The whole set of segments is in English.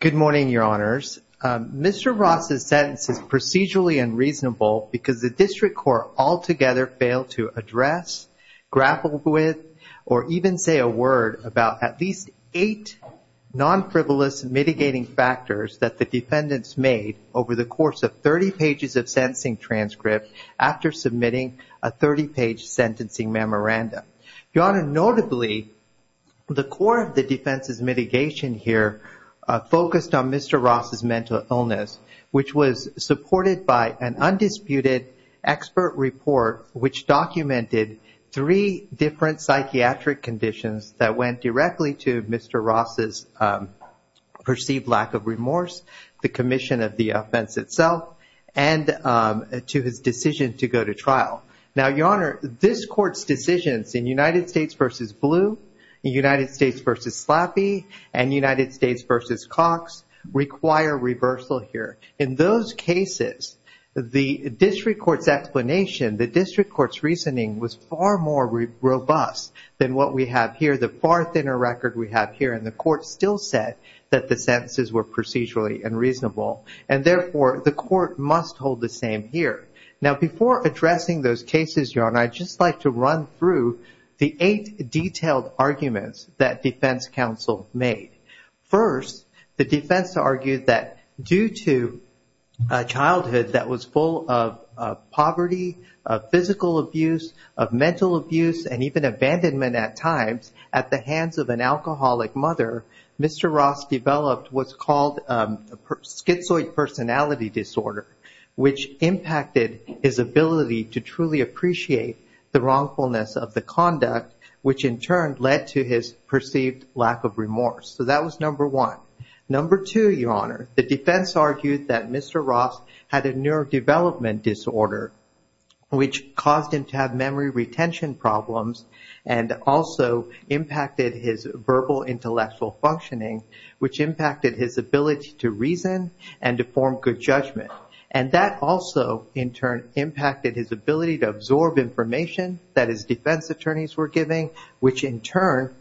Good morning, Your Honors. Mr. Ross' sentence is procedurally unreasonable because the District Court altogether failed to address, grapple with, or even say a word about at least eight non-frivolous mitigating factors that the defendants made over the course of 30 pages of sentencing transcript after submitting a 30-page sentencing memorandum. Your Honor, notably, the core of the defense's mitigation here focused on Mr. Ross' mental illness, which was supported by an undisputed expert report which documented three different psychiatric conditions that went directly to Mr. Ross' perceived lack of remorse, the commission of the offense itself, and to his decision to go to trial. Now, Your Honor, this Court's decisions in United States v. Blue, United States v. Slappy, and United States v. Cox require reversal here. In those cases, the District Court's explanation, the District Court's reasoning was far more robust than what we have here, the far thinner record we have here, and the Court still said that the sentences were procedurally unreasonable, and therefore, the Court must hold the same here. Now, before addressing those cases, Your Honor, I'd just like to run through the eight detailed arguments that defense counsel made. First, the defense argued that due to a childhood that was full of poverty, of physical abuse, of mental abuse, and even abandonment at times, at the hands of an alcoholic mother, Mr. Ross developed what's called schizoid personality disorder, which impacted his ability to truly appreciate the wrongfulness of the conduct, which in turn led to his perceived lack of remorse. So that was number one. Number two, Your Honor, the defense argued that Mr. Ross had a neurodevelopment disorder, which caused him to have memory retention problems, and also impacted his verbal intellectual functioning, which impacted his ability to reason and to form good judgment. And that also, in turn, impacted his ability to absorb information that his defense attorneys were giving, which in turn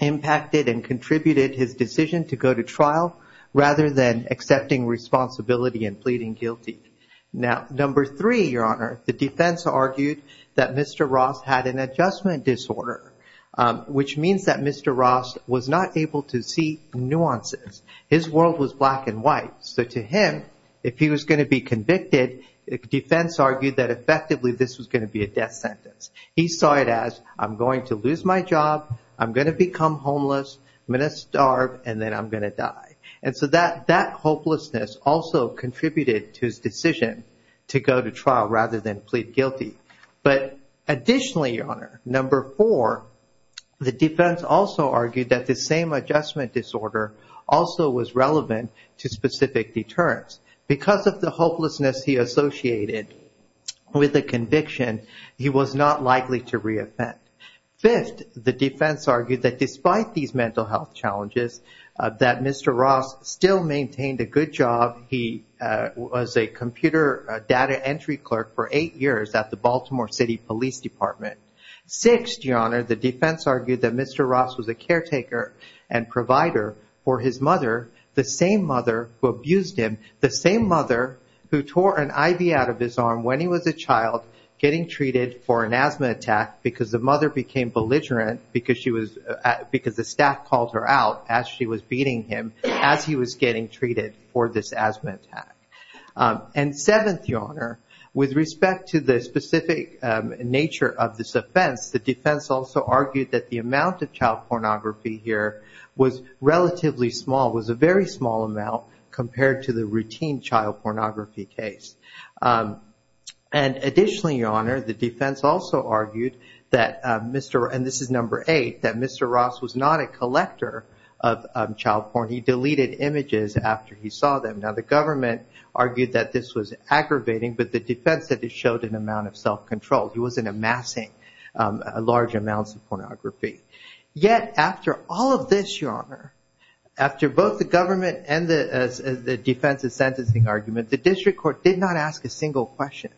impacted and contributed his decision to go to trial rather than accepting responsibility and pleading guilty. Now, number three, Your Honor, the defense argued that Mr. Ross had an adjustment disorder, which means that Mr. Ross was not able to see nuances. His world was black and white, so to him, if he was going to be convicted, the defense argued that effectively this was going to be a death sentence. He saw it as, I'm going to lose my job, I'm going to become homeless, I'm going to starve, and then I'm going to die. And so that hopelessness also contributed to his decision to go to trial rather than plead guilty. But additionally, Your Honor, number four, the defense also argued that this same adjustment disorder also was relevant to specific deterrence. Because of the hopelessness he associated with the conviction, he was not likely to reoffend. Fifth, the defense argued that despite these mental health challenges, that Mr. Ross still maintained a good job. He was a computer data entry clerk for eight years at the Baltimore City Police Department. Sixth, Your Honor, the defense argued that Mr. Ross was a caretaker and provider for his mother, the same mother who abused him, the same mother who tore an IV out of his arm when he was a child getting treated for an asthma attack because the mother became belligerent because the staff called her out as she was beating him as he was getting treated for this asthma attack. And seventh, Your Honor, with respect to the specific nature of this offense, the defense also argued that the amount of child pornography here was relatively small, was a very small amount compared to the routine child pornography case. And additionally, Your Honor, the defense also argued, and this is number eight, that Mr. Ross was not a collector of child porn. He deleted images after he saw them. Now, the government argued that this was aggravating, but the defense said it showed an amount of self-control. He wasn't amassing large amounts of pornography. Yet after all of this, Your Honor, after both the government and the defense's sentencing argument, the district court did not ask a single question.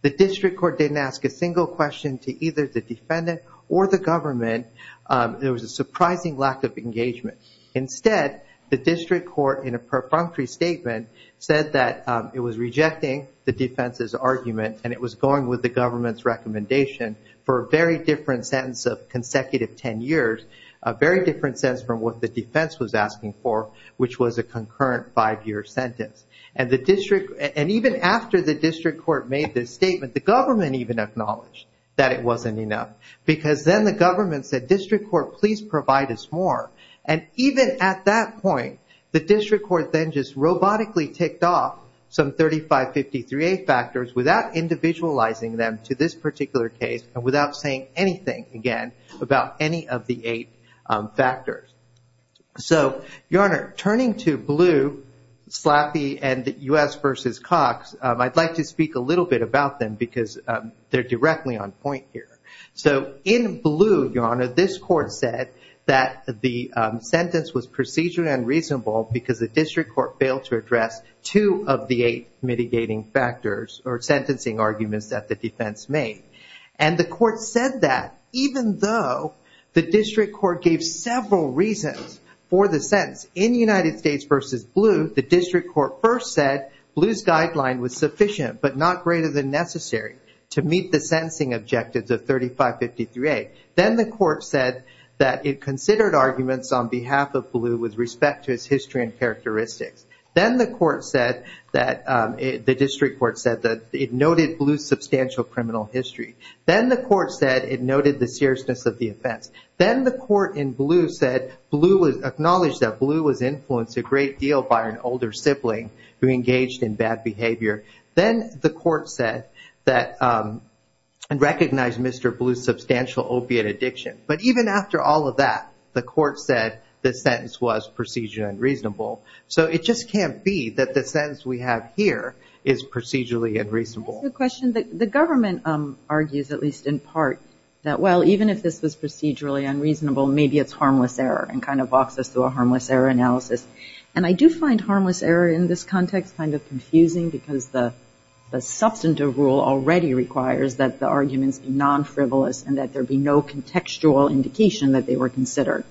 The district court didn't ask a single question to either the defendant or the government. There was a surprising lack of engagement. Instead, the district court, in a perfunctory statement, said that it was rejecting the defense's argument and it was going with the government's recommendation for a very different sentence of consecutive ten years, a very different sentence from what the defense was asking for, which was a concurrent five-year sentence. And even after the district court made this statement, the government even acknowledged that it wasn't enough, because then the government said, District Court, please provide us more. And even at that point, the district court then just robotically ticked off some 3553A factors without individualizing them to this particular case and without saying anything, again, about any of the eight factors. So, Your Honor, turning to Blue, Slappy, and U.S. v. Cox, I'd like to speak a little bit about them because they're directly on point here. So, in Blue, Your Honor, this court said that the sentence was procedurally unreasonable because the district court failed to address two of the eight mitigating factors or sentencing arguments that the defense made. And the court said that even though the district court gave several reasons for the sentence. In United States v. Blue, the district court first said Blue's guideline was sufficient but not greater than necessary to meet the sentencing objectives of 3553A. Then the court said that it considered arguments on behalf of Blue with respect to his history and characteristics. Then the district court said that it noted Blue's substantial criminal history. Then the court said it noted the seriousness of the offense. Then the court in Blue acknowledged that Blue was influenced a great deal by an older sibling who engaged in bad behavior. Then the court said that it recognized Mr. Blue's substantial opiate addiction. But even after all of that, the court said the sentence was procedurally unreasonable. So it just can't be that the sentence we have here is procedurally unreasonable. That's a good question. The government argues, at least in part, that, well, even if this was procedurally unreasonable, maybe it's harmless error and kind of walks us through a harmless error analysis. And I do find harmless error in this context kind of confusing because the substantive rule already requires that the arguments be non-frivolous and that there be no contextual indication that they were considered.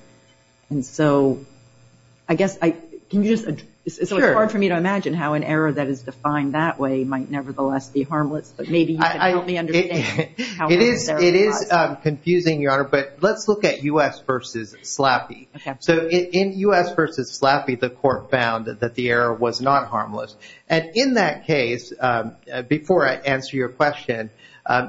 And so I guess I can use it. It's hard for me to imagine how an error that is defined that way might nevertheless be harmless, but maybe you can help me understand how it is. It is confusing, Your Honor, but let's look at U.S. v. Slappy. Okay. So in U.S. v. Slappy, the court found that the error was not harmless. And in that case, before I answer your question,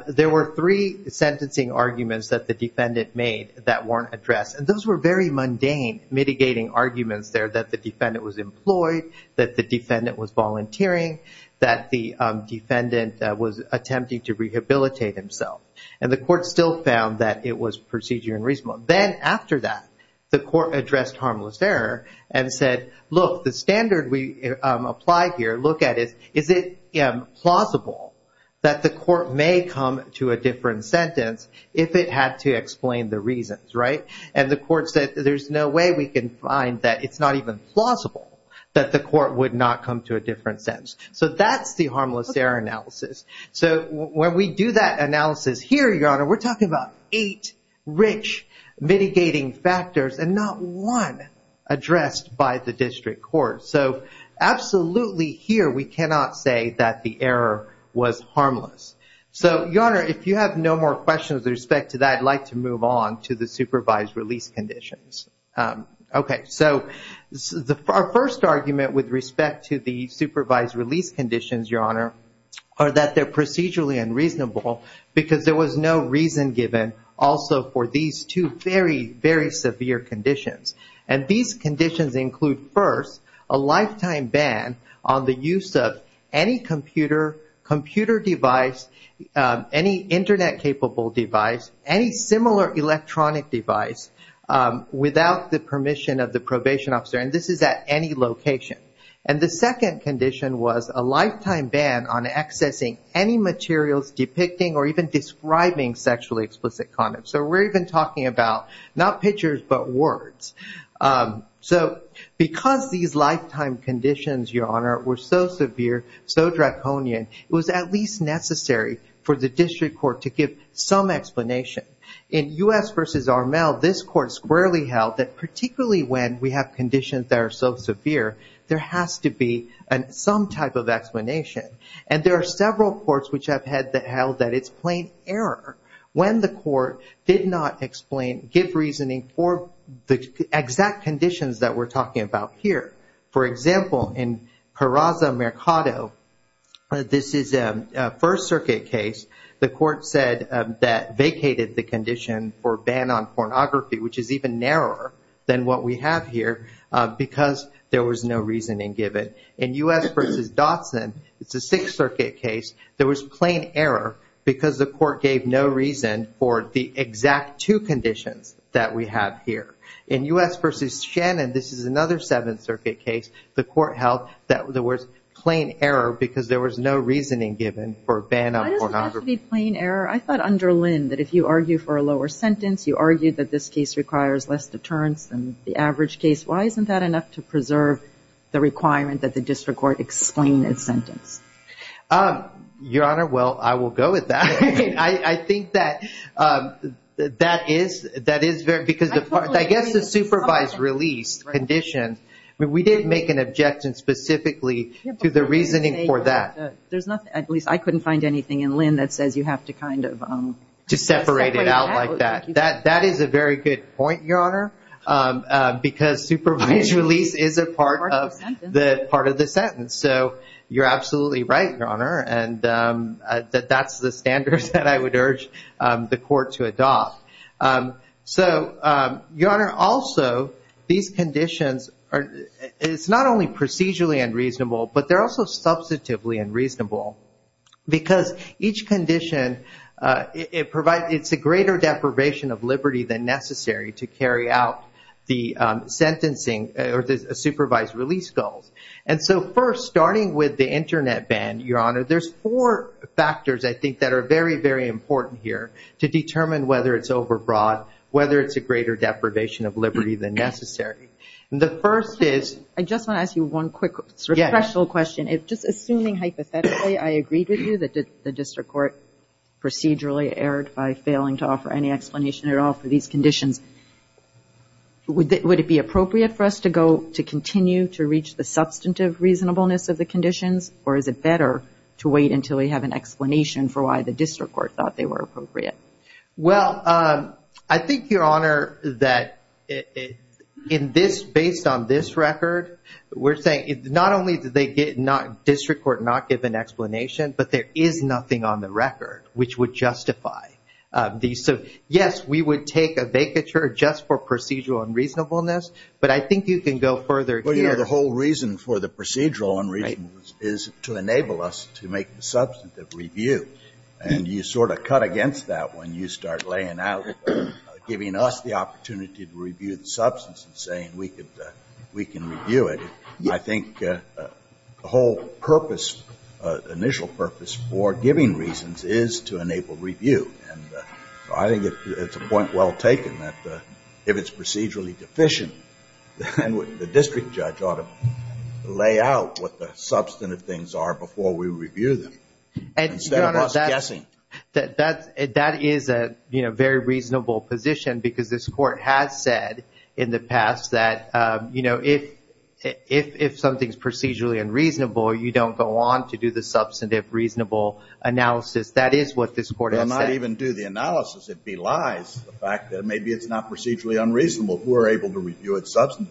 there were three sentencing arguments that the defendant made that weren't addressed. And those were very mundane, mitigating arguments there that the defendant was employed, that the defendant was volunteering, that the defendant was attempting to rehabilitate himself. And the court still found that it was procedurally unreasonable. Then after that, the court addressed harmless error and said, look, the standard we apply here, look at it, is it plausible that the court may come to a different sentence if it had to explain the reasons, right? And the court said there's no way we can find that it's not even plausible that the court would not come to a different sentence. So that's the harmless error analysis. So when we do that analysis here, Your Honor, we're talking about eight rich mitigating factors and not one addressed by the district court. So absolutely here we cannot say that the error was harmless. So, Your Honor, if you have no more questions with respect to that, I'd like to move on to the supervised release conditions. Okay. So our first argument with respect to the supervised release conditions, Your Honor, are that they're procedurally unreasonable because there was no reason given also for these two very, very severe conditions. And these conditions include, first, a lifetime ban on the use of any computer device, any Internet-capable device, any similar electronic device, without the permission of the probation officer. And this is at any location. And the second condition was a lifetime ban on accessing any materials depicting or even describing sexually explicit conduct. So we're even talking about not pictures but words. So because these lifetime conditions, Your Honor, were so severe, so draconian, it was at least necessary for the district court to give some explanation. In U.S. v. Armel, this court squarely held that particularly when we have conditions that are so severe, there has to be some type of explanation. And there are several courts which have held that it's plain error when the court did not explain, give reasoning for the exact conditions that we're talking about here. For example, in Carraza Mercado, this is a First Circuit case. The court said that vacated the condition for ban on pornography, which is even narrower than what we have here, because there was no reasoning given. In U.S. v. Dotson, it's a Sixth Circuit case. There was plain error because the court gave no reason for the exact two conditions that we have here. In U.S. v. Shannon, this is another Seventh Circuit case. The court held that there was plain error because there was no reasoning given for ban on pornography. Why does it have to be plain error? I thought under Lynn that if you argue for a lower sentence, you argue that this case requires less deterrence than the average case. Why isn't that enough to preserve the requirement that the district court explain its sentence? Your Honor, well, I will go with that. I think that that is very, because I guess the supervised release condition, we did make an objection specifically to the reasoning for that. There's nothing, at least I couldn't find anything in Lynn that says you have to kind of. To separate it out like that. That is a very good point, Your Honor, because supervised release is a part of the sentence. And so you're absolutely right, Your Honor, that that's the standards that I would urge the court to adopt. So, Your Honor, also, these conditions, it's not only procedurally unreasonable, but they're also substantively unreasonable because each condition, it's a greater deprivation of liberty than necessary to carry out the sentencing or the supervised release goals. And so first, starting with the Internet ban, Your Honor, there's four factors, I think, that are very, very important here to determine whether it's overbroad, whether it's a greater deprivation of liberty than necessary. And the first is. I just want to ask you one quick question. Just assuming hypothetically I agreed with you that the district court procedurally erred by failing to offer any explanation at all for these conditions, would it be appropriate for us to continue to reach the substantive reasonableness of the conditions? Or is it better to wait until we have an explanation for why the district court thought they were appropriate? Well, I think, Your Honor, that based on this record, we're saying not only did the district court not give an explanation, but there is nothing on the record which would justify these. So, yes, we would take a vacature just for procedural unreasonableness. But I think you can go further here. Well, you know, the whole reason for the procedural unreasonable is to enable us to make the substantive review. And you sort of cut against that when you start laying out, giving us the opportunity to review the substance and saying we can review it. I think the whole purpose, initial purpose for giving reasons is to enable review. And I think it's a point well taken that if it's procedurally deficient, then the district judge ought to lay out what the substantive things are before we review them. Instead of us guessing. That is a very reasonable position because this court has said in the past that, you know, if something's procedurally unreasonable, you don't go on to do the substantive reasonable analysis. That is what this court has said. Well, not even do the analysis. It belies the fact that maybe it's not procedurally unreasonable. We're able to review it substantively.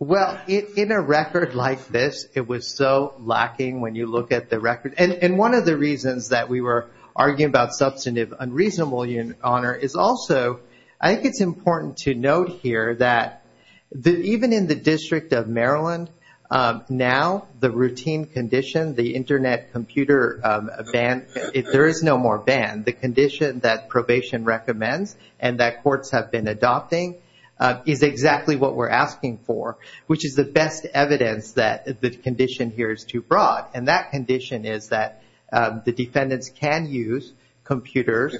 Well, in a record like this, it was so lacking when you look at the record. And one of the reasons that we were arguing about substantive unreasonable, Your Honor, is also I think it's important to note here that even in the District of Maryland, now the routine condition, the Internet computer ban, there is no more ban. The condition that probation recommends and that courts have been adopting is exactly what we're asking for, which is the best evidence that the condition here is too broad. And that condition is that the defendants can use computers,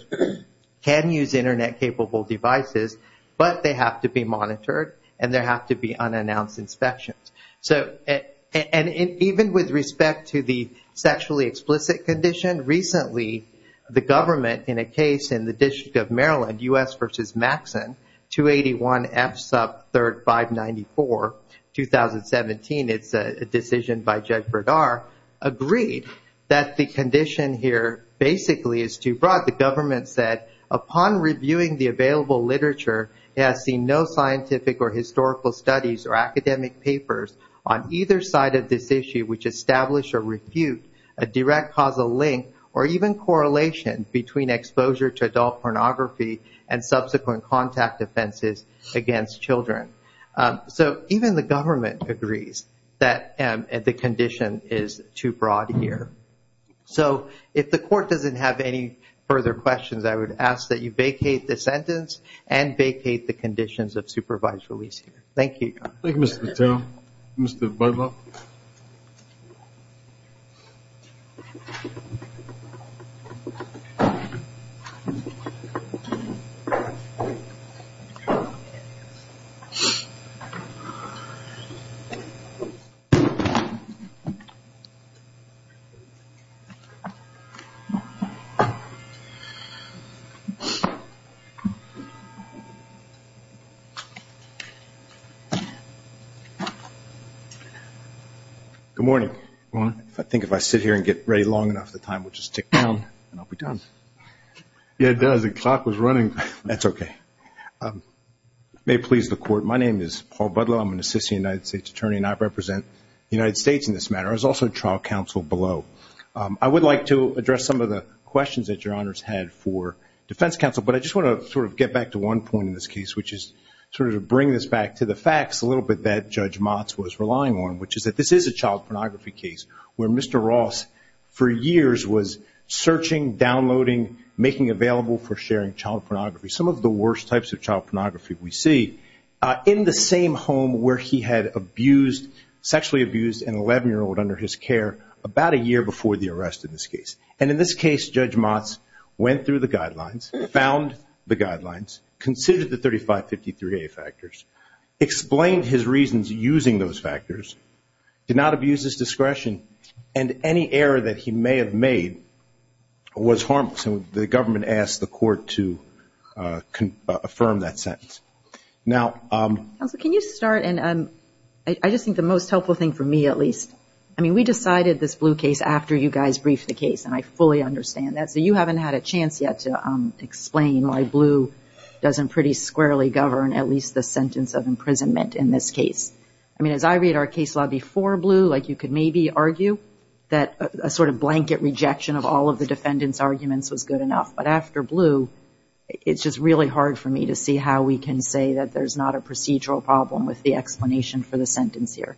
can use Internet-capable devices, but they have to be monitored and there have to be unannounced inspections. And even with respect to the sexually explicit condition, recently the government in a case in the District of Maryland, U.S. v. Maxon, 281 F sub 3rd 594, 2017, it's a decision by Judd Verdar, agreed that the condition here basically is too broad. And that's what the government said. Upon reviewing the available literature, it has seen no scientific or historical studies or academic papers on either side of this issue which establish or refute a direct causal link or even correlation between exposure to adult pornography and subsequent contact offenses against children. So even the government agrees that the condition is too broad here. So if the court doesn't have any further questions, I would ask that you vacate the sentence and vacate the conditions of supervised release here. Thank you. Thank you, Mr. Vitale. Mr. Budlock. Good morning. Good morning. I think if I sit here and get ready long enough, the time will just tick down and I'll be done. Yeah, it does. The clock was running. That's okay. May it please the Court, my name is Paul Budlock. I'm an assistant United States attorney, and I represent the United States in this matter. I was also trial counsel below. I would like to address some of the questions that Your Honors had for defense counsel, but I just want to sort of get back to one point in this case, which is sort of bring this back to the facts a little bit that Judge Motz was relying on, which is that this is a child pornography case where Mr. Ross, for years, was searching, downloading, making available for sharing child pornography, some of the worst types of child pornography we see, in the same home where he had abused, sexually abused an 11-year-old under his care, about a year before the arrest in this case. And in this case, Judge Motz went through the guidelines, found the guidelines, considered the 3553A factors, explained his reasons using those factors, did not abuse his discretion, and any error that he may have made was harmless. So the government asked the court to affirm that sentence. Now ‑‑ Counsel, can you start? And I just think the most helpful thing for me, at least, I mean, we decided this Blue case after you guys briefed the case, and I fully understand that. So you haven't had a chance yet to explain why Blue doesn't pretty squarely govern at least the sentence of imprisonment in this case. I mean, as I read our case law before Blue, like you could maybe argue that a sort of blanket rejection of all of the defendant's arguments was good enough. But after Blue, it's just really hard for me to see how we can say that there's not a procedural problem with the explanation for the sentence here.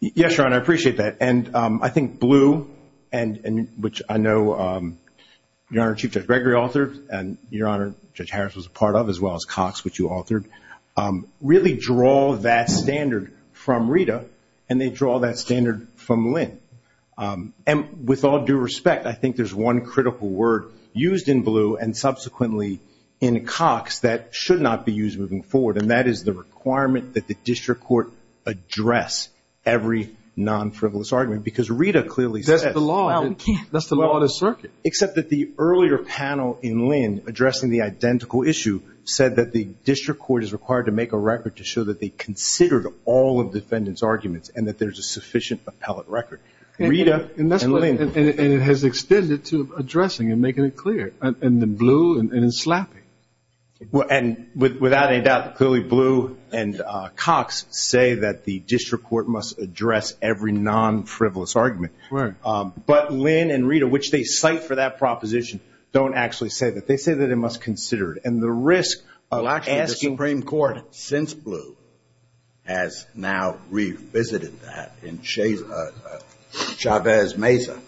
Yes, Your Honor, I appreciate that. And I think Blue, which I know Your Honor, Chief Judge Gregory authored, and Your Honor, Judge Harris was a part of, as well as Cox, which you authored, really draw that standard from Rita, and they draw that standard from Lynn. And with all due respect, I think there's one critical word used in Blue, and subsequently in Cox, that should not be used moving forward, and that is the requirement that the district court address every non‑frivolous argument. Because Rita clearly says ‑‑ That's the law. We can't. That's the law of the circuit. Except that the earlier panel in Lynn, addressing the identical issue, said that the district court is required to make a record to show that they considered all of the defendant's arguments and that there's a sufficient appellate record. Rita and Lynn. And it has extended to addressing and making it clear. And in Blue and in Slappy. And without a doubt, clearly Blue and Cox say that the district court must address every non‑frivolous argument. Right. But Lynn and Rita, which they cite for that proposition, don't actually say that. They say that it must consider it. And the risk of asking ‑‑ Well, actually, the Supreme Court, since Blue, has now revisited that in Chavez Meza.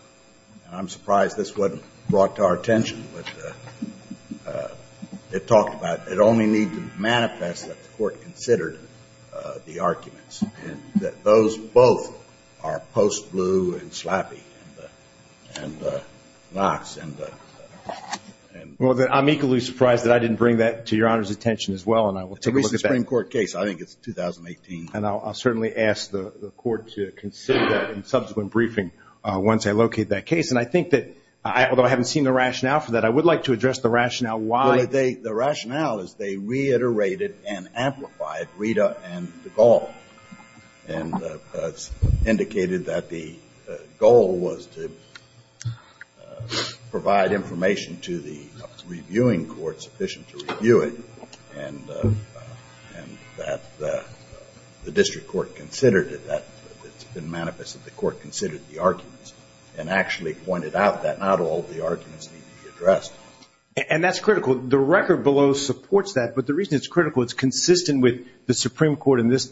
I'm surprised this wasn't brought to our attention. It talked about it only needed to manifest that the court considered the arguments and that those both are post Blue and Slappy and Cox. Well, I'm equally surprised that I didn't bring that to your Honor's attention as well. And I will take a look at that. It's a recent Supreme Court case. I think it's 2018. And I'll certainly ask the court to consider that in subsequent briefing once I locate that case. And I think that, although I haven't seen the rationale for that, I would like to address the rationale why. Well, the rationale is they reiterated and amplified Rita and DeGaulle and indicated that the goal was to provide information to the reviewing court sufficient to review it and that the district court considered it, that it's been manifest that the court considered the arguments and actually pointed out that not all the arguments need to be addressed. And that's critical. The record below supports that. But the reason it's critical, it's consistent with the Supreme Court and this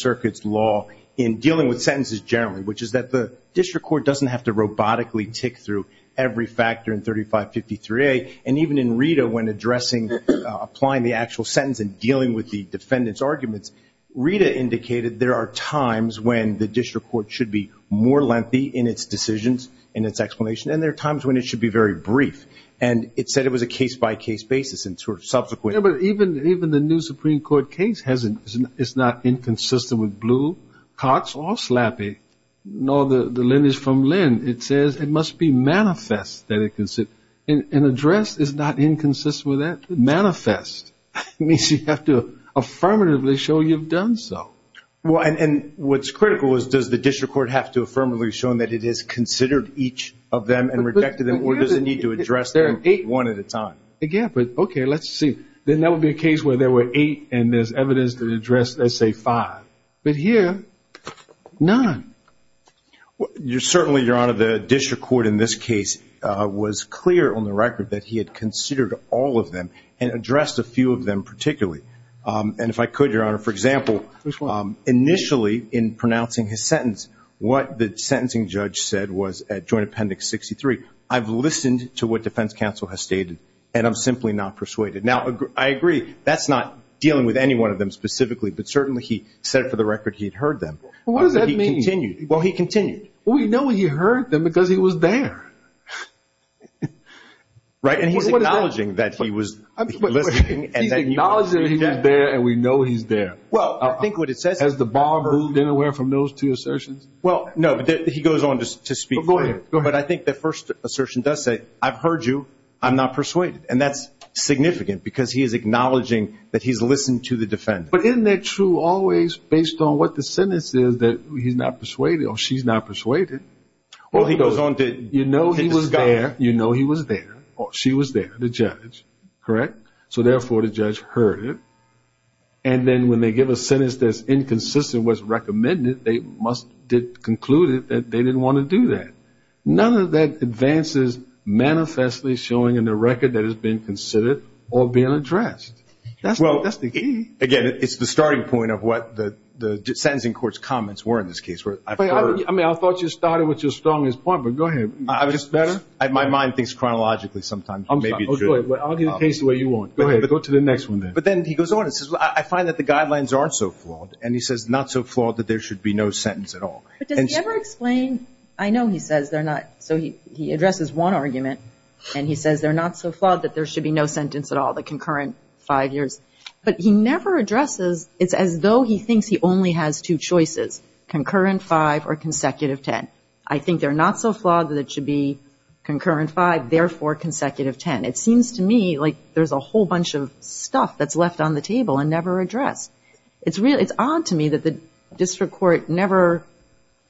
circuit's law in dealing with sentences generally, which is that the district court doesn't have to robotically tick through every factor in 3553A. And even in Rita, when addressing, applying the actual sentence and dealing with the defendant's arguments, Rita indicated there are times when the district court should be more lengthy in its decisions, in its explanation, and there are times when it should be very brief. And it said it was a case-by-case basis and sort of subsequent. Yeah, but even the new Supreme Court case is not inconsistent with Blue, Cox, or Slappy, nor the lineage from Lynn. It says it must be manifest that it can sit. An address is not inconsistent with that. Manifest means you have to affirmatively show you've done so. Well, and what's critical is does the district court have to affirmatively show that it has considered each of them and rejected them, or does it need to address them one at a time? Yeah, but okay, let's see. Then that would be a case where there were eight and there's evidence to address, let's say, five. But here, none. Certainly, Your Honor, the district court in this case was clear on the record that he had considered all of them and addressed a few of them particularly. And if I could, Your Honor, for example, initially in pronouncing his sentence, what the sentencing judge said was at Joint Appendix 63, I've listened to what defense counsel has stated and I'm simply not persuaded. Now, I agree that's not dealing with any one of them specifically, but certainly he said for the record he'd heard them. What does that mean? Well, he continued. Well, we know he heard them because he was there. Right, and he's acknowledging that he was listening. He's acknowledging he was there and we know he's there. Has the bar moved anywhere from those two assertions? Well, no, but he goes on to speak later. Go ahead. But I think the first assertion does say, I've heard you, I'm not persuaded. And that's significant because he is acknowledging that he's listened to the defendant. But isn't that true always based on what the sentence is that he's not persuaded or she's not persuaded? Well, he goes on to, you know he was there, you know he was there, or she was there, the judge, correct? So, therefore, the judge heard it. And then when they give a sentence that's inconsistent with what's recommended, they must conclude that they didn't want to do that. None of that advances manifestly showing in the record that it's been considered or being addressed. Well, again, it's the starting point of what the sentencing court's comments were in this case. I mean, I thought you started with your strongest point, but go ahead. My mind thinks chronologically sometimes. I'll give the case the way you want. Go ahead. But go to the next one then. But then he goes on and says, well, I find that the guidelines aren't so flawed. And he says, not so flawed that there should be no sentence at all. But does he ever explain, I know he says they're not, so he addresses one argument, and he says they're not so flawed that there should be no sentence at all, the concurrent five years. But he never addresses, it's as though he thinks he only has two choices, concurrent five or consecutive ten. I think they're not so flawed that it should be concurrent five, therefore consecutive ten. It seems to me like there's a whole bunch of stuff that's left on the table and never addressed. It's odd to me that the district court never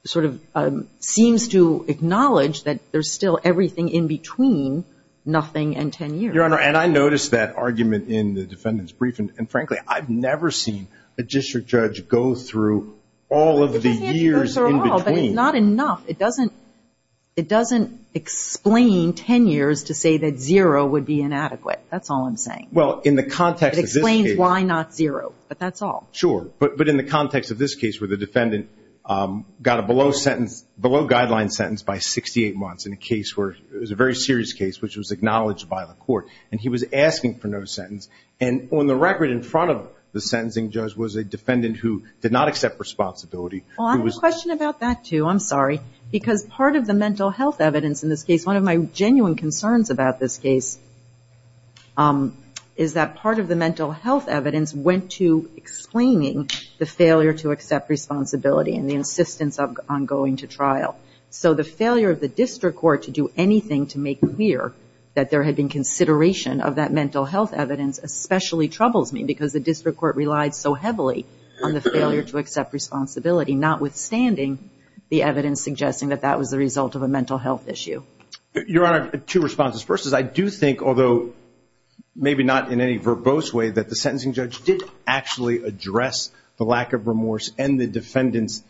sort of seems to acknowledge that there's still everything in between nothing and ten years. Your Honor, and I noticed that argument in the defendant's briefing. And, frankly, I've never seen a district judge go through all of the years in between. It's not enough. It doesn't explain ten years to say that zero would be inadequate. That's all I'm saying. Well, in the context of this case. It explains why not zero. But that's all. Sure. But in the context of this case where the defendant got a below-sentence, below-guideline sentence by 68 months in a case where, it was a very serious case which was acknowledged by the court. And he was asking for no sentence. And on the record in front of the sentencing judge was a defendant who did not accept responsibility. Well, I have a question about that, too. I'm sorry. Because part of the mental health evidence in this case, one of my genuine concerns about this case, is that part of the mental health evidence went to explaining the failure to accept responsibility and the insistence on going to trial. So the failure of the district court to do anything to make clear that there had been consideration of that mental health evidence especially troubles me because the district court relied so heavily on the failure to accept responsibility, notwithstanding the evidence suggesting that that was the result of a mental health issue. Your Honor, two responses. First is I do think, although maybe not in any verbose way, that the sentencing judge did actually address the lack of remorse and the defendant's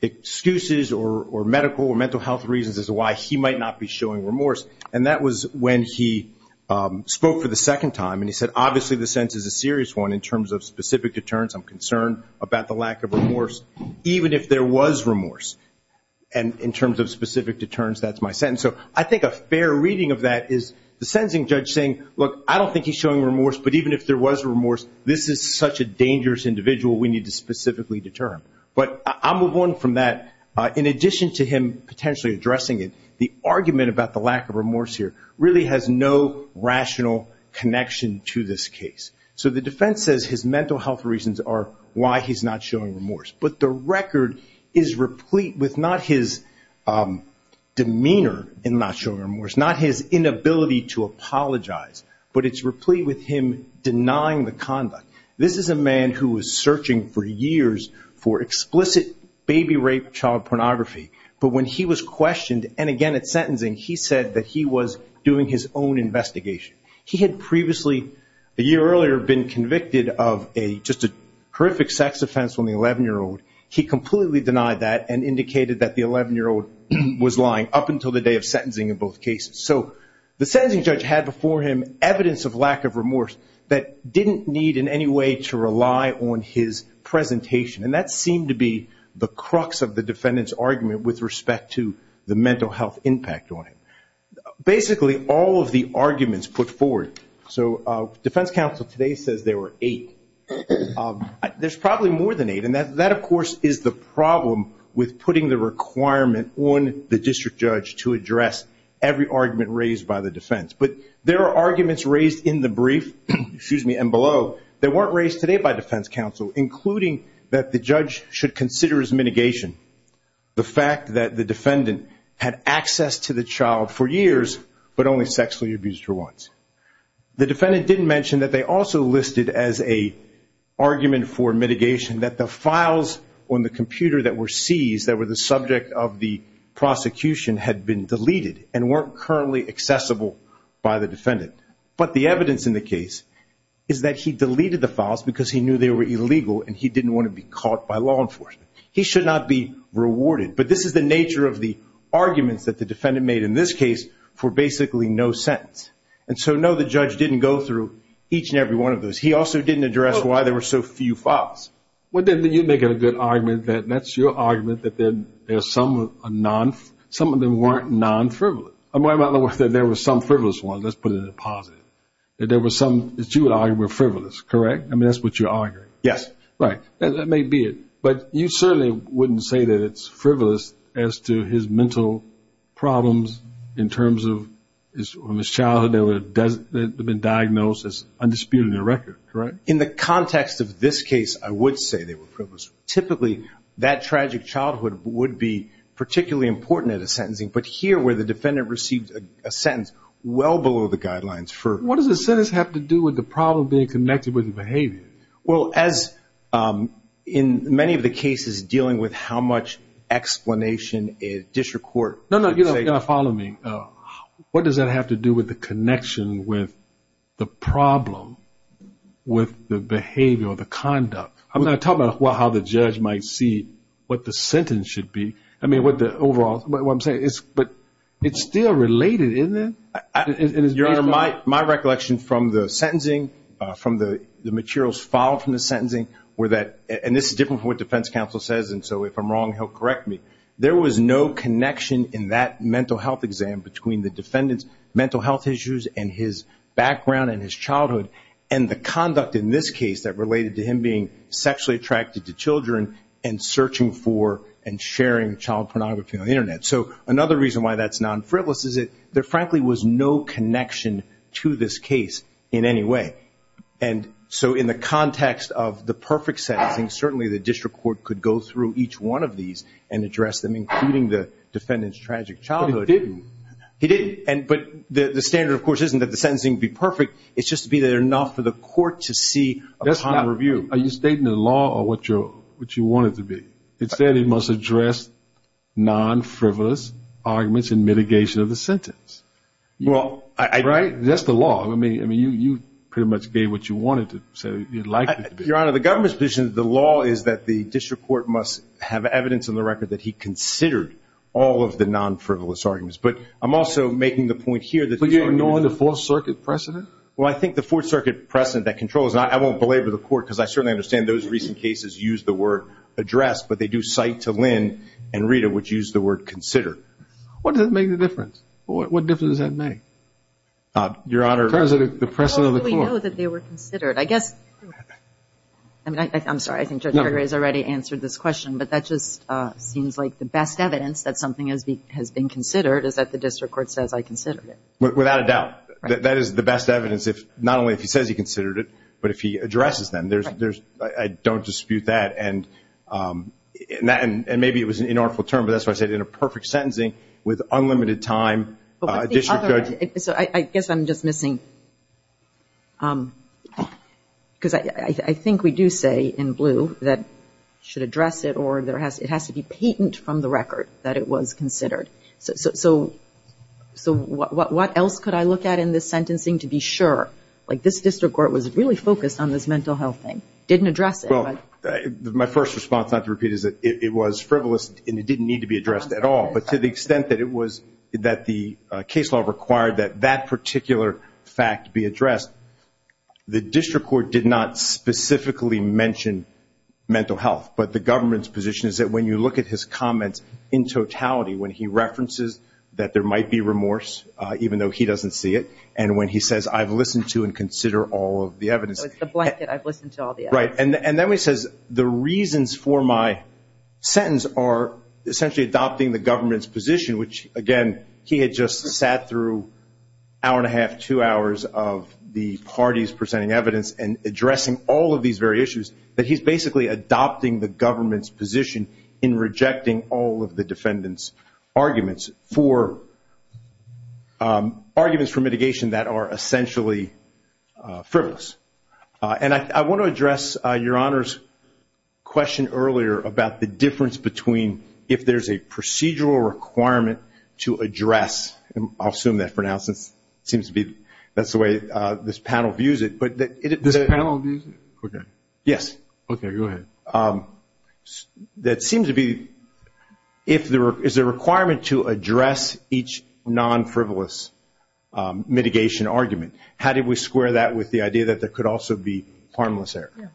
excuses or medical or mental health reasons as to why he might not be showing remorse. And that was when he spoke for the second time and he said, obviously the sentence is a serious one in terms of specific deterrence. I'm concerned about the lack of remorse even if there was remorse. And in terms of specific deterrence, that's my sentence. So I think a fair reading of that is the sentencing judge saying, look, I don't think he's showing remorse, but even if there was remorse, this is such a dangerous individual we need to specifically deter him. But I'll move on from that. In addition to him potentially addressing it, the argument about the lack of remorse here really has no rational connection to this case. So the defense says his mental health reasons are why he's not showing remorse. But the record is replete with not his demeanor in not showing remorse, not his inability to apologize, but it's replete with him denying the conduct. This is a man who was searching for years for explicit baby rape, child pornography. But when he was questioned and again at sentencing, he said that he was doing his own investigation. He had previously, a year earlier, been convicted of just a horrific sex offense on the 11-year-old. He completely denied that and indicated that the 11-year-old was lying up until the day of sentencing in both cases. So the sentencing judge had before him evidence of lack of remorse that didn't need in any way to rely on his presentation. And that seemed to be the crux of the defendant's argument with respect to the mental health impact on him. Basically, all of the arguments put forward. So defense counsel today says there were eight. There's probably more than eight. And that, of course, is the problem with putting the requirement on the district judge to address every argument raised by the defense. But there are arguments raised in the brief and below that weren't raised today by defense counsel, including that the judge should consider as mitigation the fact that the defendant had access to the child for years, but only sexually abused her once. The defendant didn't mention that they also listed as an argument for mitigation that the files on the computer that were seized, that were the subject of the prosecution, had been deleted and weren't currently accessible by the defendant. But the evidence in the case is that he deleted the files because he knew they were illegal and he didn't want to be caught by law enforcement. He should not be rewarded. But this is the nature of the arguments that the defendant made in this case for basically no sentence. And so, no, the judge didn't go through each and every one of those. He also didn't address why there were so few files. Well, then you'd make it a good argument that that's your argument that there are some of them weren't non-frivolous. In other words, that there were some frivolous ones. Let's put it in the positive. That there were some that you would argue were frivolous, correct? I mean, that's what you're arguing. Yes. Right. That may be it. But you certainly wouldn't say that it's frivolous as to his mental problems in terms of his childhood that have been diagnosed as undisputed in the record, correct? In the context of this case, I would say they were frivolous. Typically, that tragic childhood would be particularly important at a sentencing. But here, where the defendant received a sentence well below the guidelines for... What does a sentence have to do with the problem being connected with the behavior? Well, as in many of the cases dealing with how much explanation is disrecorded... No, no. You've got to follow me. What does that have to do with the connection with the problem with the behavior or the conduct? I'm not talking about how the judge might see what the sentence should be. I mean, overall, what I'm saying is it's still related, isn't it? Your Honor, my recollection from the sentencing, from the materials filed from the sentencing were that, and this is different from what defense counsel says, and so if I'm wrong, he'll correct me. There was no connection in that mental health exam between the defendant's mental health issues and his background and his childhood and the conduct in this case that related to him being sexually attracted to children So another reason why that's non-frivolous is that there frankly was no connection to this case in any way. And so in the context of the perfect sentencing, certainly the district court could go through each one of these and address them, including the defendant's tragic childhood. But it didn't. It didn't. But the standard, of course, isn't that the sentencing would be perfect. It's just to be there enough for the court to see upon review. Are you stating the law or what you want it to be? It said it must address non-frivolous arguments in mitigation of the sentence. Right? That's the law. I mean, you pretty much gave what you wanted to say. Your Honor, the government's position is the law is that the district court must have evidence in the record that he considered all of the non-frivolous arguments. But I'm also making the point here that the court needs to be. But you're ignoring the Fourth Circuit precedent? Well, I think the Fourth Circuit precedent that controls, and I won't belabor the court because I certainly understand those recent cases use the word address, but they do cite to Lynn and Rita, which use the word consider. What does that make the difference? What difference does that make? Your Honor. In terms of the precedent of the court. How do we know that they were considered? I guess, I'm sorry, I think Judge Gregory has already answered this question, but that just seems like the best evidence that something has been considered is that the district court says, I considered it. Without a doubt. That is the best evidence, not only if he says he considered it, but if he addresses them. I don't dispute that. And maybe it was an inartful term, but that's why I said in a perfect sentencing, with unlimited time, a district judge. I guess I'm just missing, because I think we do say in blue that should address it or it has to be patent from the record that it was considered. So what else could I look at in this sentencing to be sure? Like this district court was really focused on this mental health thing, didn't address it. Well, my first response, not to repeat, is that it was frivolous and it didn't need to be addressed at all. But to the extent that the case law required that that particular fact be addressed, the district court did not specifically mention mental health. But the government's position is that when you look at his comments in totality, when he references that there might be remorse, even though he doesn't see it, and when he says, I've listened to and consider all of the evidence. So it's the blanket, I've listened to all the evidence. Right. And then he says the reasons for my sentence are essentially adopting the government's position, which, again, he had just sat through an hour and a half, two hours, of the parties presenting evidence and addressing all of these very issues, that he's basically adopting the government's position in rejecting all of the defendant's arguments for mitigation that are essentially frivolous. And I want to address Your Honor's question earlier about the difference between if there's a procedural requirement to address, and I'll assume that for now since it seems to be that's the way this panel views it. This panel views it? Yes. Okay, go ahead. That seems to be if there is a requirement to address each non-frivolous mitigation argument, how do we square that with the idea that there could also be harmless error?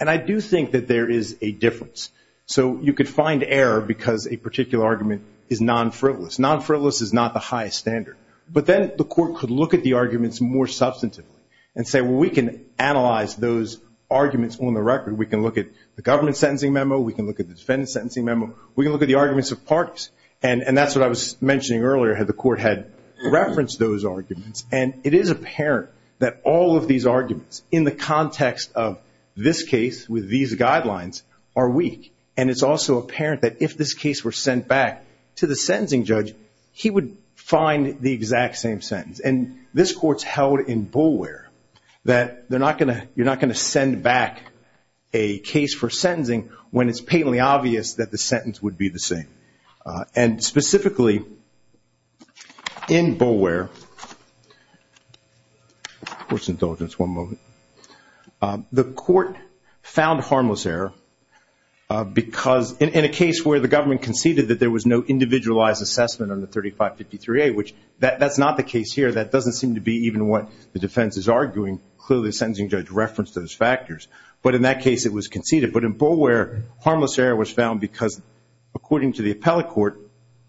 And I do think that there is a difference. So you could find error because a particular argument is non-frivolous. Non-frivolous is not the highest standard. But then the court could look at the arguments more substantively and say, well, we can analyze those arguments on the record. We can look at the government's sentencing memo. We can look at the defendant's sentencing memo. We can look at the arguments of parties. And that's what I was mentioning earlier, that the court had referenced those arguments. And it is apparent that all of these arguments in the context of this case with these guidelines are weak. And it's also apparent that if this case were sent back to the sentencing judge, he would find the exact same sentence. And this court's held in Boulware that you're not going to send back a case for sentencing when it's patently obvious that the sentence would be the same. And specifically in Boulware, the court found harmless error in a case where the government conceded that there was no individualized assessment under 3553A, which that's not the case here. That doesn't seem to be even what the defense is arguing. Clearly, the sentencing judge referenced those factors. But in that case, it was conceded. But in Boulware, harmless error was found because, according to the appellate court,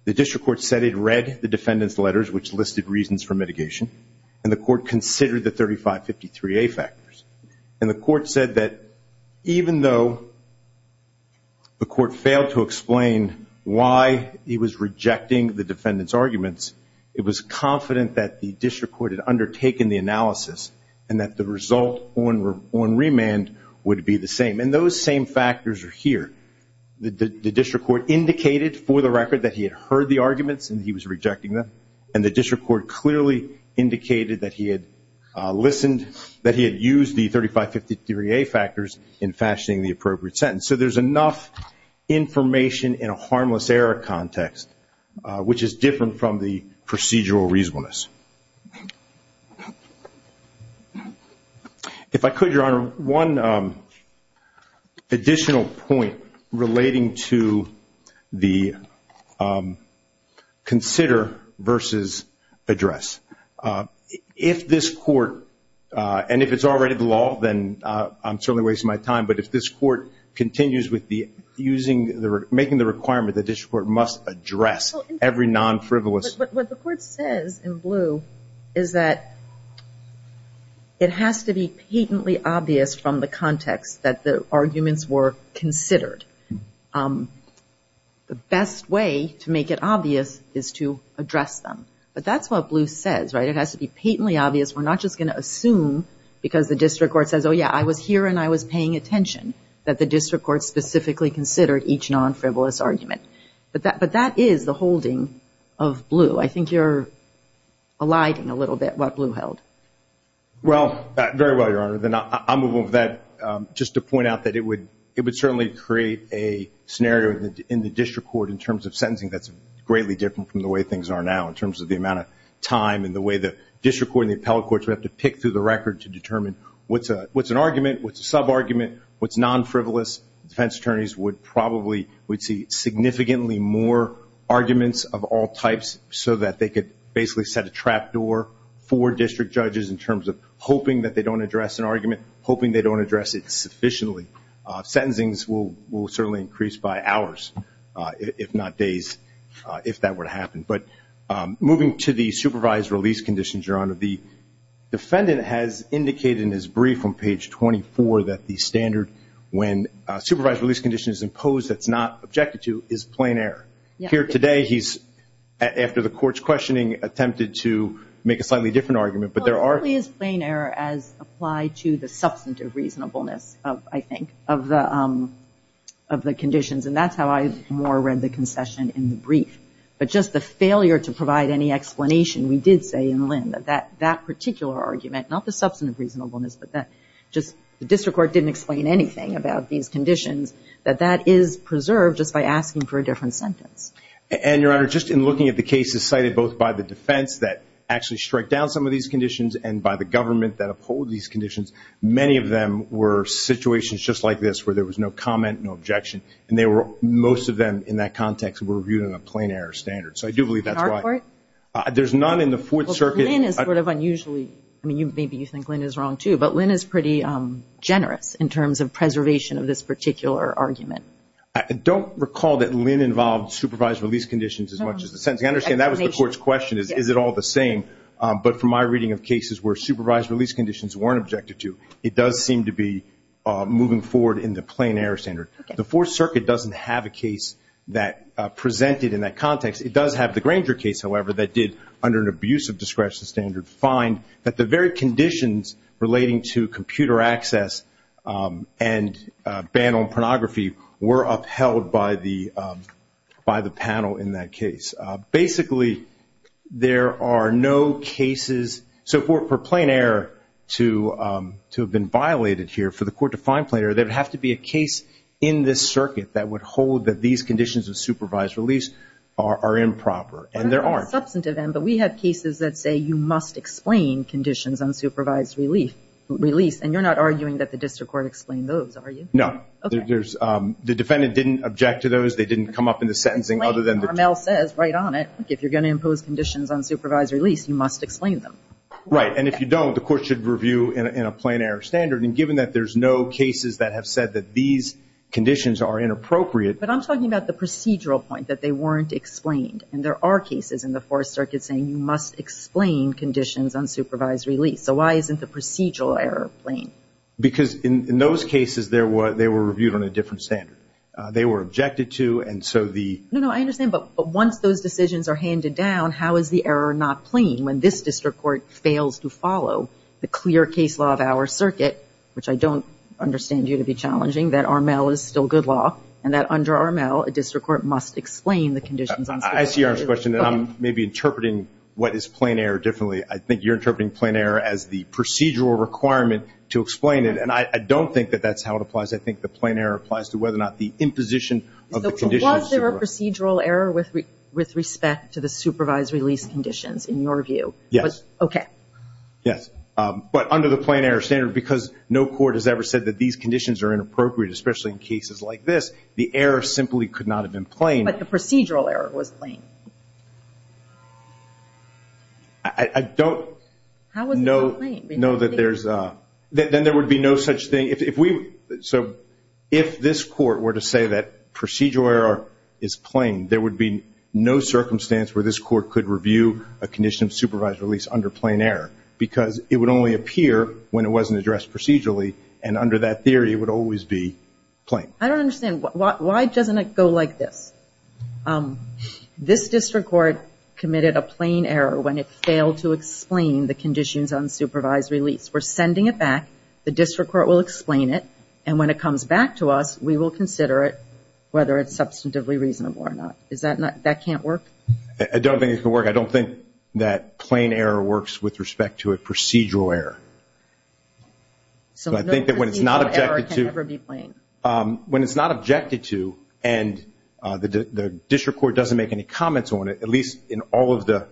the district court said it read the defendant's letters, which listed reasons for mitigation, and the court considered the 3553A factors. And the court said that even though the court failed to explain why he was rejecting the defendant's arguments, it was confident that the district court had undertaken the analysis and that the result on remand would be the same. And those same factors are here. The district court indicated for the record that he had heard the arguments and he was rejecting them, and the district court clearly indicated that he had listened, that he had used the 3553A factors in fashioning the appropriate sentence. So there's enough information in a harmless error context, which is different from the procedural reasonableness. If I could, Your Honor, one additional point relating to the consider versus address. If this court, and if it's already the law, then I'm certainly wasting my time, but if this court continues with making the requirement that the district court must address every non-frivolous. What the court says in blue is that it has to be patently obvious from the context that the arguments were considered. The best way to make it obvious is to address them. But that's what blue says, right? It has to be patently obvious. We're not just going to assume because the district court says, oh, yeah, I was here and I was paying attention, that the district court specifically considered each non-frivolous argument. But that is the holding of blue. I think you're eliding a little bit what blue held. Well, very well, Your Honor. I'll move on from that just to point out that it would certainly create a scenario in the district court in terms of sentencing that's greatly different from the way things are now in terms of the amount of time and the way the district court and the appellate courts would have to pick through the record to determine what's an argument, what's a sub-argument, what's non-frivolous. Defense attorneys would probably see significantly more arguments of all types so that they could basically set a trap door for district judges in terms of hoping that they don't address an argument, hoping they don't address it sufficiently. Sentencings will certainly increase by hours, if not days, if that were to happen. But moving to the supervised release conditions, Your Honor, the defendant has indicated in his brief on page 24 that the standard when a supervised release condition is imposed that's not objected to is plain error. Here today he's, after the court's questioning, attempted to make a slightly different argument. Well, it really is plain error as applied to the substantive reasonableness, I think, of the conditions. And that's how I more read the concession in the brief. But just the failure to provide any explanation, we did say in Lynn, that that particular argument, not the substantive reasonableness, but that just the district court didn't explain anything about these conditions, that that is preserved just by asking for a different sentence. And, Your Honor, just in looking at the cases cited both by the defense that actually struck down some of these conditions and by the government that uphold these conditions, many of them were situations just like this where there was no comment, no objection, and most of them in that context were viewed in a plain error standard. So I do believe that's why. In our court? There's none in the Fourth Circuit. Lynn is sort of unusually, I mean, maybe you think Lynn is wrong too, but Lynn is pretty generous in terms of preservation of this particular argument. I don't recall that Lynn involved supervised release conditions as much as the sentence. I understand that was the court's question, is it all the same? But from my reading of cases where supervised release conditions weren't objected to, it does seem to be moving forward in the plain error standard. The Fourth Circuit doesn't have a case that presented in that context. It does have the Granger case, however, that did, under an abuse of discretion standard, find that the very conditions relating to computer access and ban on pornography were upheld by the panel in that case. Basically, there are no cases. So for plain error to have been violated here, for the court to find plain error, there would have to be a case in this circuit that would hold that these conditions of supervised release are improper, and there aren't. That's a substantive end, but we have cases that say you must explain conditions on supervised release, and you're not arguing that the district court explained those, are you? No. Okay. The defendant didn't object to those. They didn't come up in the sentencing other than the – Explain, Carmel says right on it, if you're going to impose conditions on supervised release, you must explain them. Right, and if you don't, the court should review in a plain error standard, and given that there's no cases that have said that these conditions are inappropriate – But I'm talking about the procedural point, that they weren't explained, and there are cases in the Fourth Circuit saying you must explain conditions on supervised release. So why isn't the procedural error plain? Because in those cases, they were reviewed on a different standard. They were objected to, and so the – No, no, I understand, but once those decisions are handed down, how is the error not plain when this district court fails to follow the clear case law of our circuit, which I don't understand you to be challenging, that Armell is still good law, and that under Armell, a district court must explain the conditions on supervised release. I see your question, and I'm maybe interpreting what is plain error differently. I think you're interpreting plain error as the procedural requirement to explain it, and I don't think that that's how it applies. I think the plain error applies to whether or not the imposition of the conditions – Yes. Okay. Yes, but under the plain error standard, because no court has ever said that these conditions are inappropriate, especially in cases like this, the error simply could not have been plain. But the procedural error was plain. I don't know that there's – How was it not plain? Then there would be no such thing. So if this court were to say that procedural error is plain, there would be no circumstance where this court could review a condition of supervised release under plain error, because it would only appear when it wasn't addressed procedurally, and under that theory it would always be plain. I don't understand. Why doesn't it go like this? This district court committed a plain error when it failed to explain the conditions on supervised release. We're sending it back. The district court will explain it, and when it comes back to us, we will consider it whether it's substantively reasonable or not. Is that not – that can't work? I don't think it can work. I don't think that plain error works with respect to a procedural error. So I think that when it's not objected to – So procedural error can never be plain. When it's not objected to and the district court doesn't make any comments on it, at least in all of the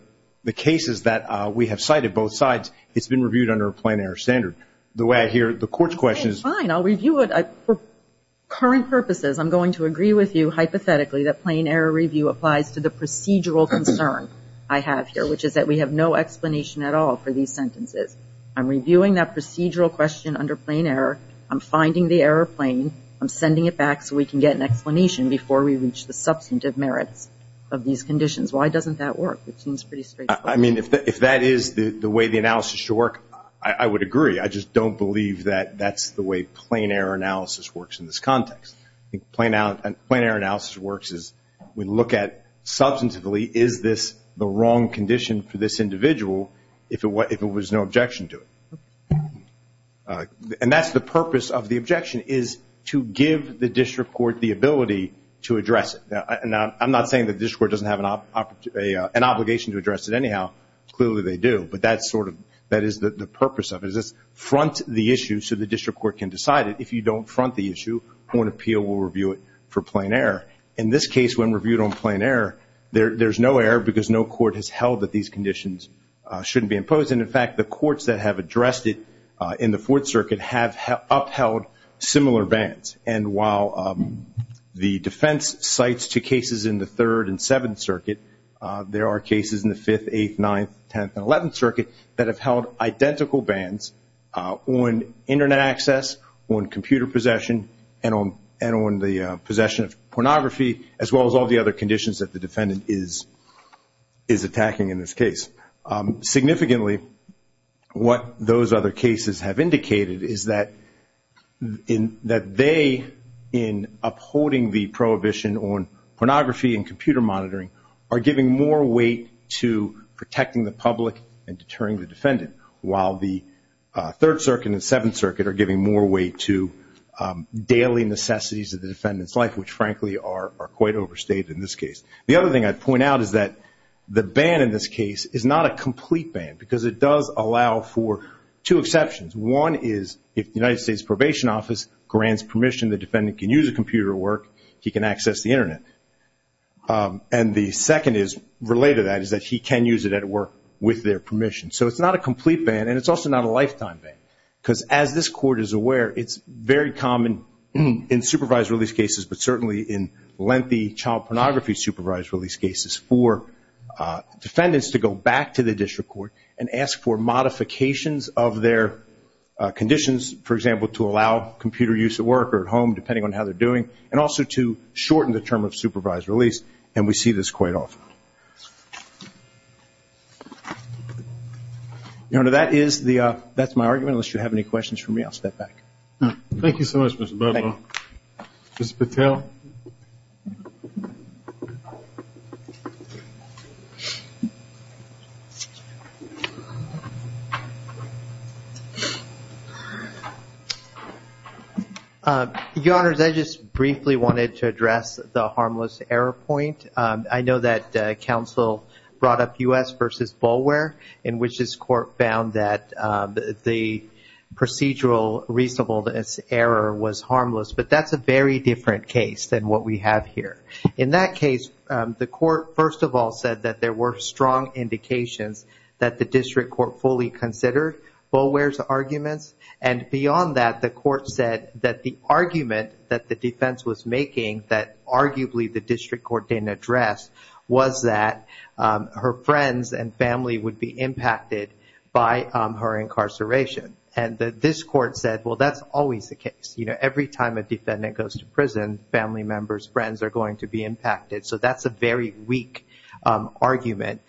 cases that we have cited, both sides, it's been reviewed under a plain error standard. The way I hear the court's question is – For current purposes, I'm going to agree with you hypothetically that plain error review applies to the procedural concern I have here, which is that we have no explanation at all for these sentences. I'm reviewing that procedural question under plain error. I'm finding the error plain. I'm sending it back so we can get an explanation before we reach the substantive merits of these conditions. Why doesn't that work? It seems pretty straightforward. I mean, if that is the way the analysis should work, I would agree. I just don't believe that that's the way plain error analysis works in this context. Plain error analysis works as we look at substantively, is this the wrong condition for this individual if it was no objection to it? And that's the purpose of the objection is to give the district court the ability to address it. Now, I'm not saying the district court doesn't have an obligation to address it anyhow. Clearly they do. But that's sort of – that is the purpose of it. It's front the issue so the district court can decide it. If you don't front the issue, court appeal will review it for plain error. In this case, when reviewed on plain error, there's no error because no court has held that these conditions shouldn't be imposed. And, in fact, the courts that have addressed it in the Fourth Circuit have upheld similar bans. And while the defense cites two cases in the Third and Seventh Circuit, there are cases in the Fifth, Eighth, Ninth, Tenth, and Eleventh Circuit that have held identical bans on Internet access, on computer possession, and on the possession of pornography, as well as all the other conditions that the defendant is attacking in this case. Significantly, what those other cases have indicated is that they, in upholding the prohibition on pornography and computer monitoring, are giving more weight to protecting the public and deterring the defendant, while the Third Circuit and Seventh Circuit are giving more weight to daily necessities of the defendant's life, which, frankly, are quite overstated in this case. The other thing I'd point out is that the ban in this case is not a complete ban because it does allow for two exceptions. One is, if the United States Probation Office grants permission, the defendant can use a computer at work, he can access the Internet. And the second is, related to that, is that he can use it at work with their permission. So it's not a complete ban and it's also not a lifetime ban because, as this Court is aware, it's very common in supervised release cases, but certainly in lengthy child pornography supervised release cases, for defendants to go back to the district court and ask for modifications of their conditions, for example, to allow computer use at work or at home, depending on how they're doing, and also to shorten the term of supervised release. And we see this quite often. That's my argument. Unless you have any questions for me, I'll step back. Thank you so much, Mr. Bobo. Mr. Patel? Your Honors, I just briefly wanted to address the harmless error point. I know that counsel brought up U.S. v. Bulware, in which this Court found that the procedural reasonable error was harmless, but that's a very different case than what we have here. In that case, the Court, first of all, said that there were strong indications that the district court fully considered Bulware's arguments. And beyond that, the Court said that the argument that the defense was making, that arguably the district court didn't address, was that her friends and family would be impacted by her incarceration. And this Court said, well, that's always the case. You know, every time a defendant goes to prison, family members, friends are going to be impacted. So that's a very weak argument.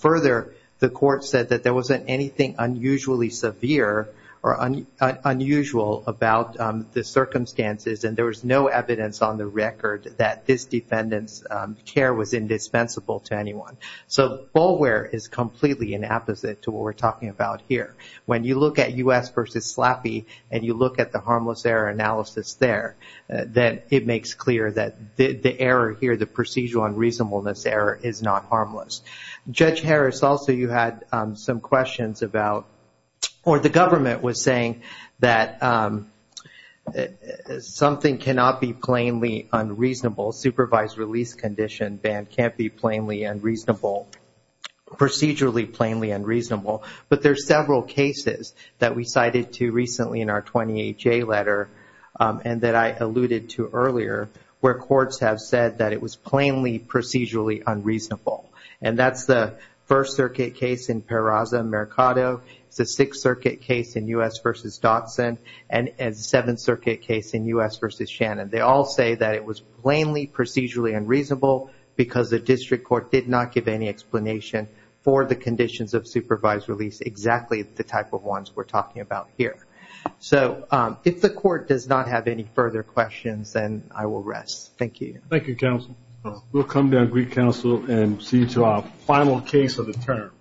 Further, the Court said that there wasn't anything unusually severe or unusual about the circumstances, and there was no evidence on the record that this defendant's care was indispensable to anyone. So Bulware is completely inapposite to what we're talking about here. When you look at U.S. v. Slappy and you look at the harmless error analysis there, then it makes clear that the error here, the procedural unreasonableness error, is not harmless. Judge Harris, also you had some questions about, or the government was saying that something cannot be plainly unreasonable, supervised release condition ban can't be plainly unreasonable, procedurally plainly unreasonable. But there's several cases that we cited to recently in our 20HA letter and that I alluded to earlier, where courts have said that it was plainly procedurally unreasonable. And that's the First Circuit case in Peraza-Mercado. It's the Sixth Circuit case in U.S. v. Dodson, and the Seventh Circuit case in U.S. v. Shannon. They all say that it was plainly procedurally unreasonable because the district court did not give any explanation for the conditions of supervised release, exactly the type of ones we're talking about here. So if the court does not have any further questions, then I will rest. Thank you. Thank you, counsel. We'll come down, greet counsel, and see you to our final case of the term.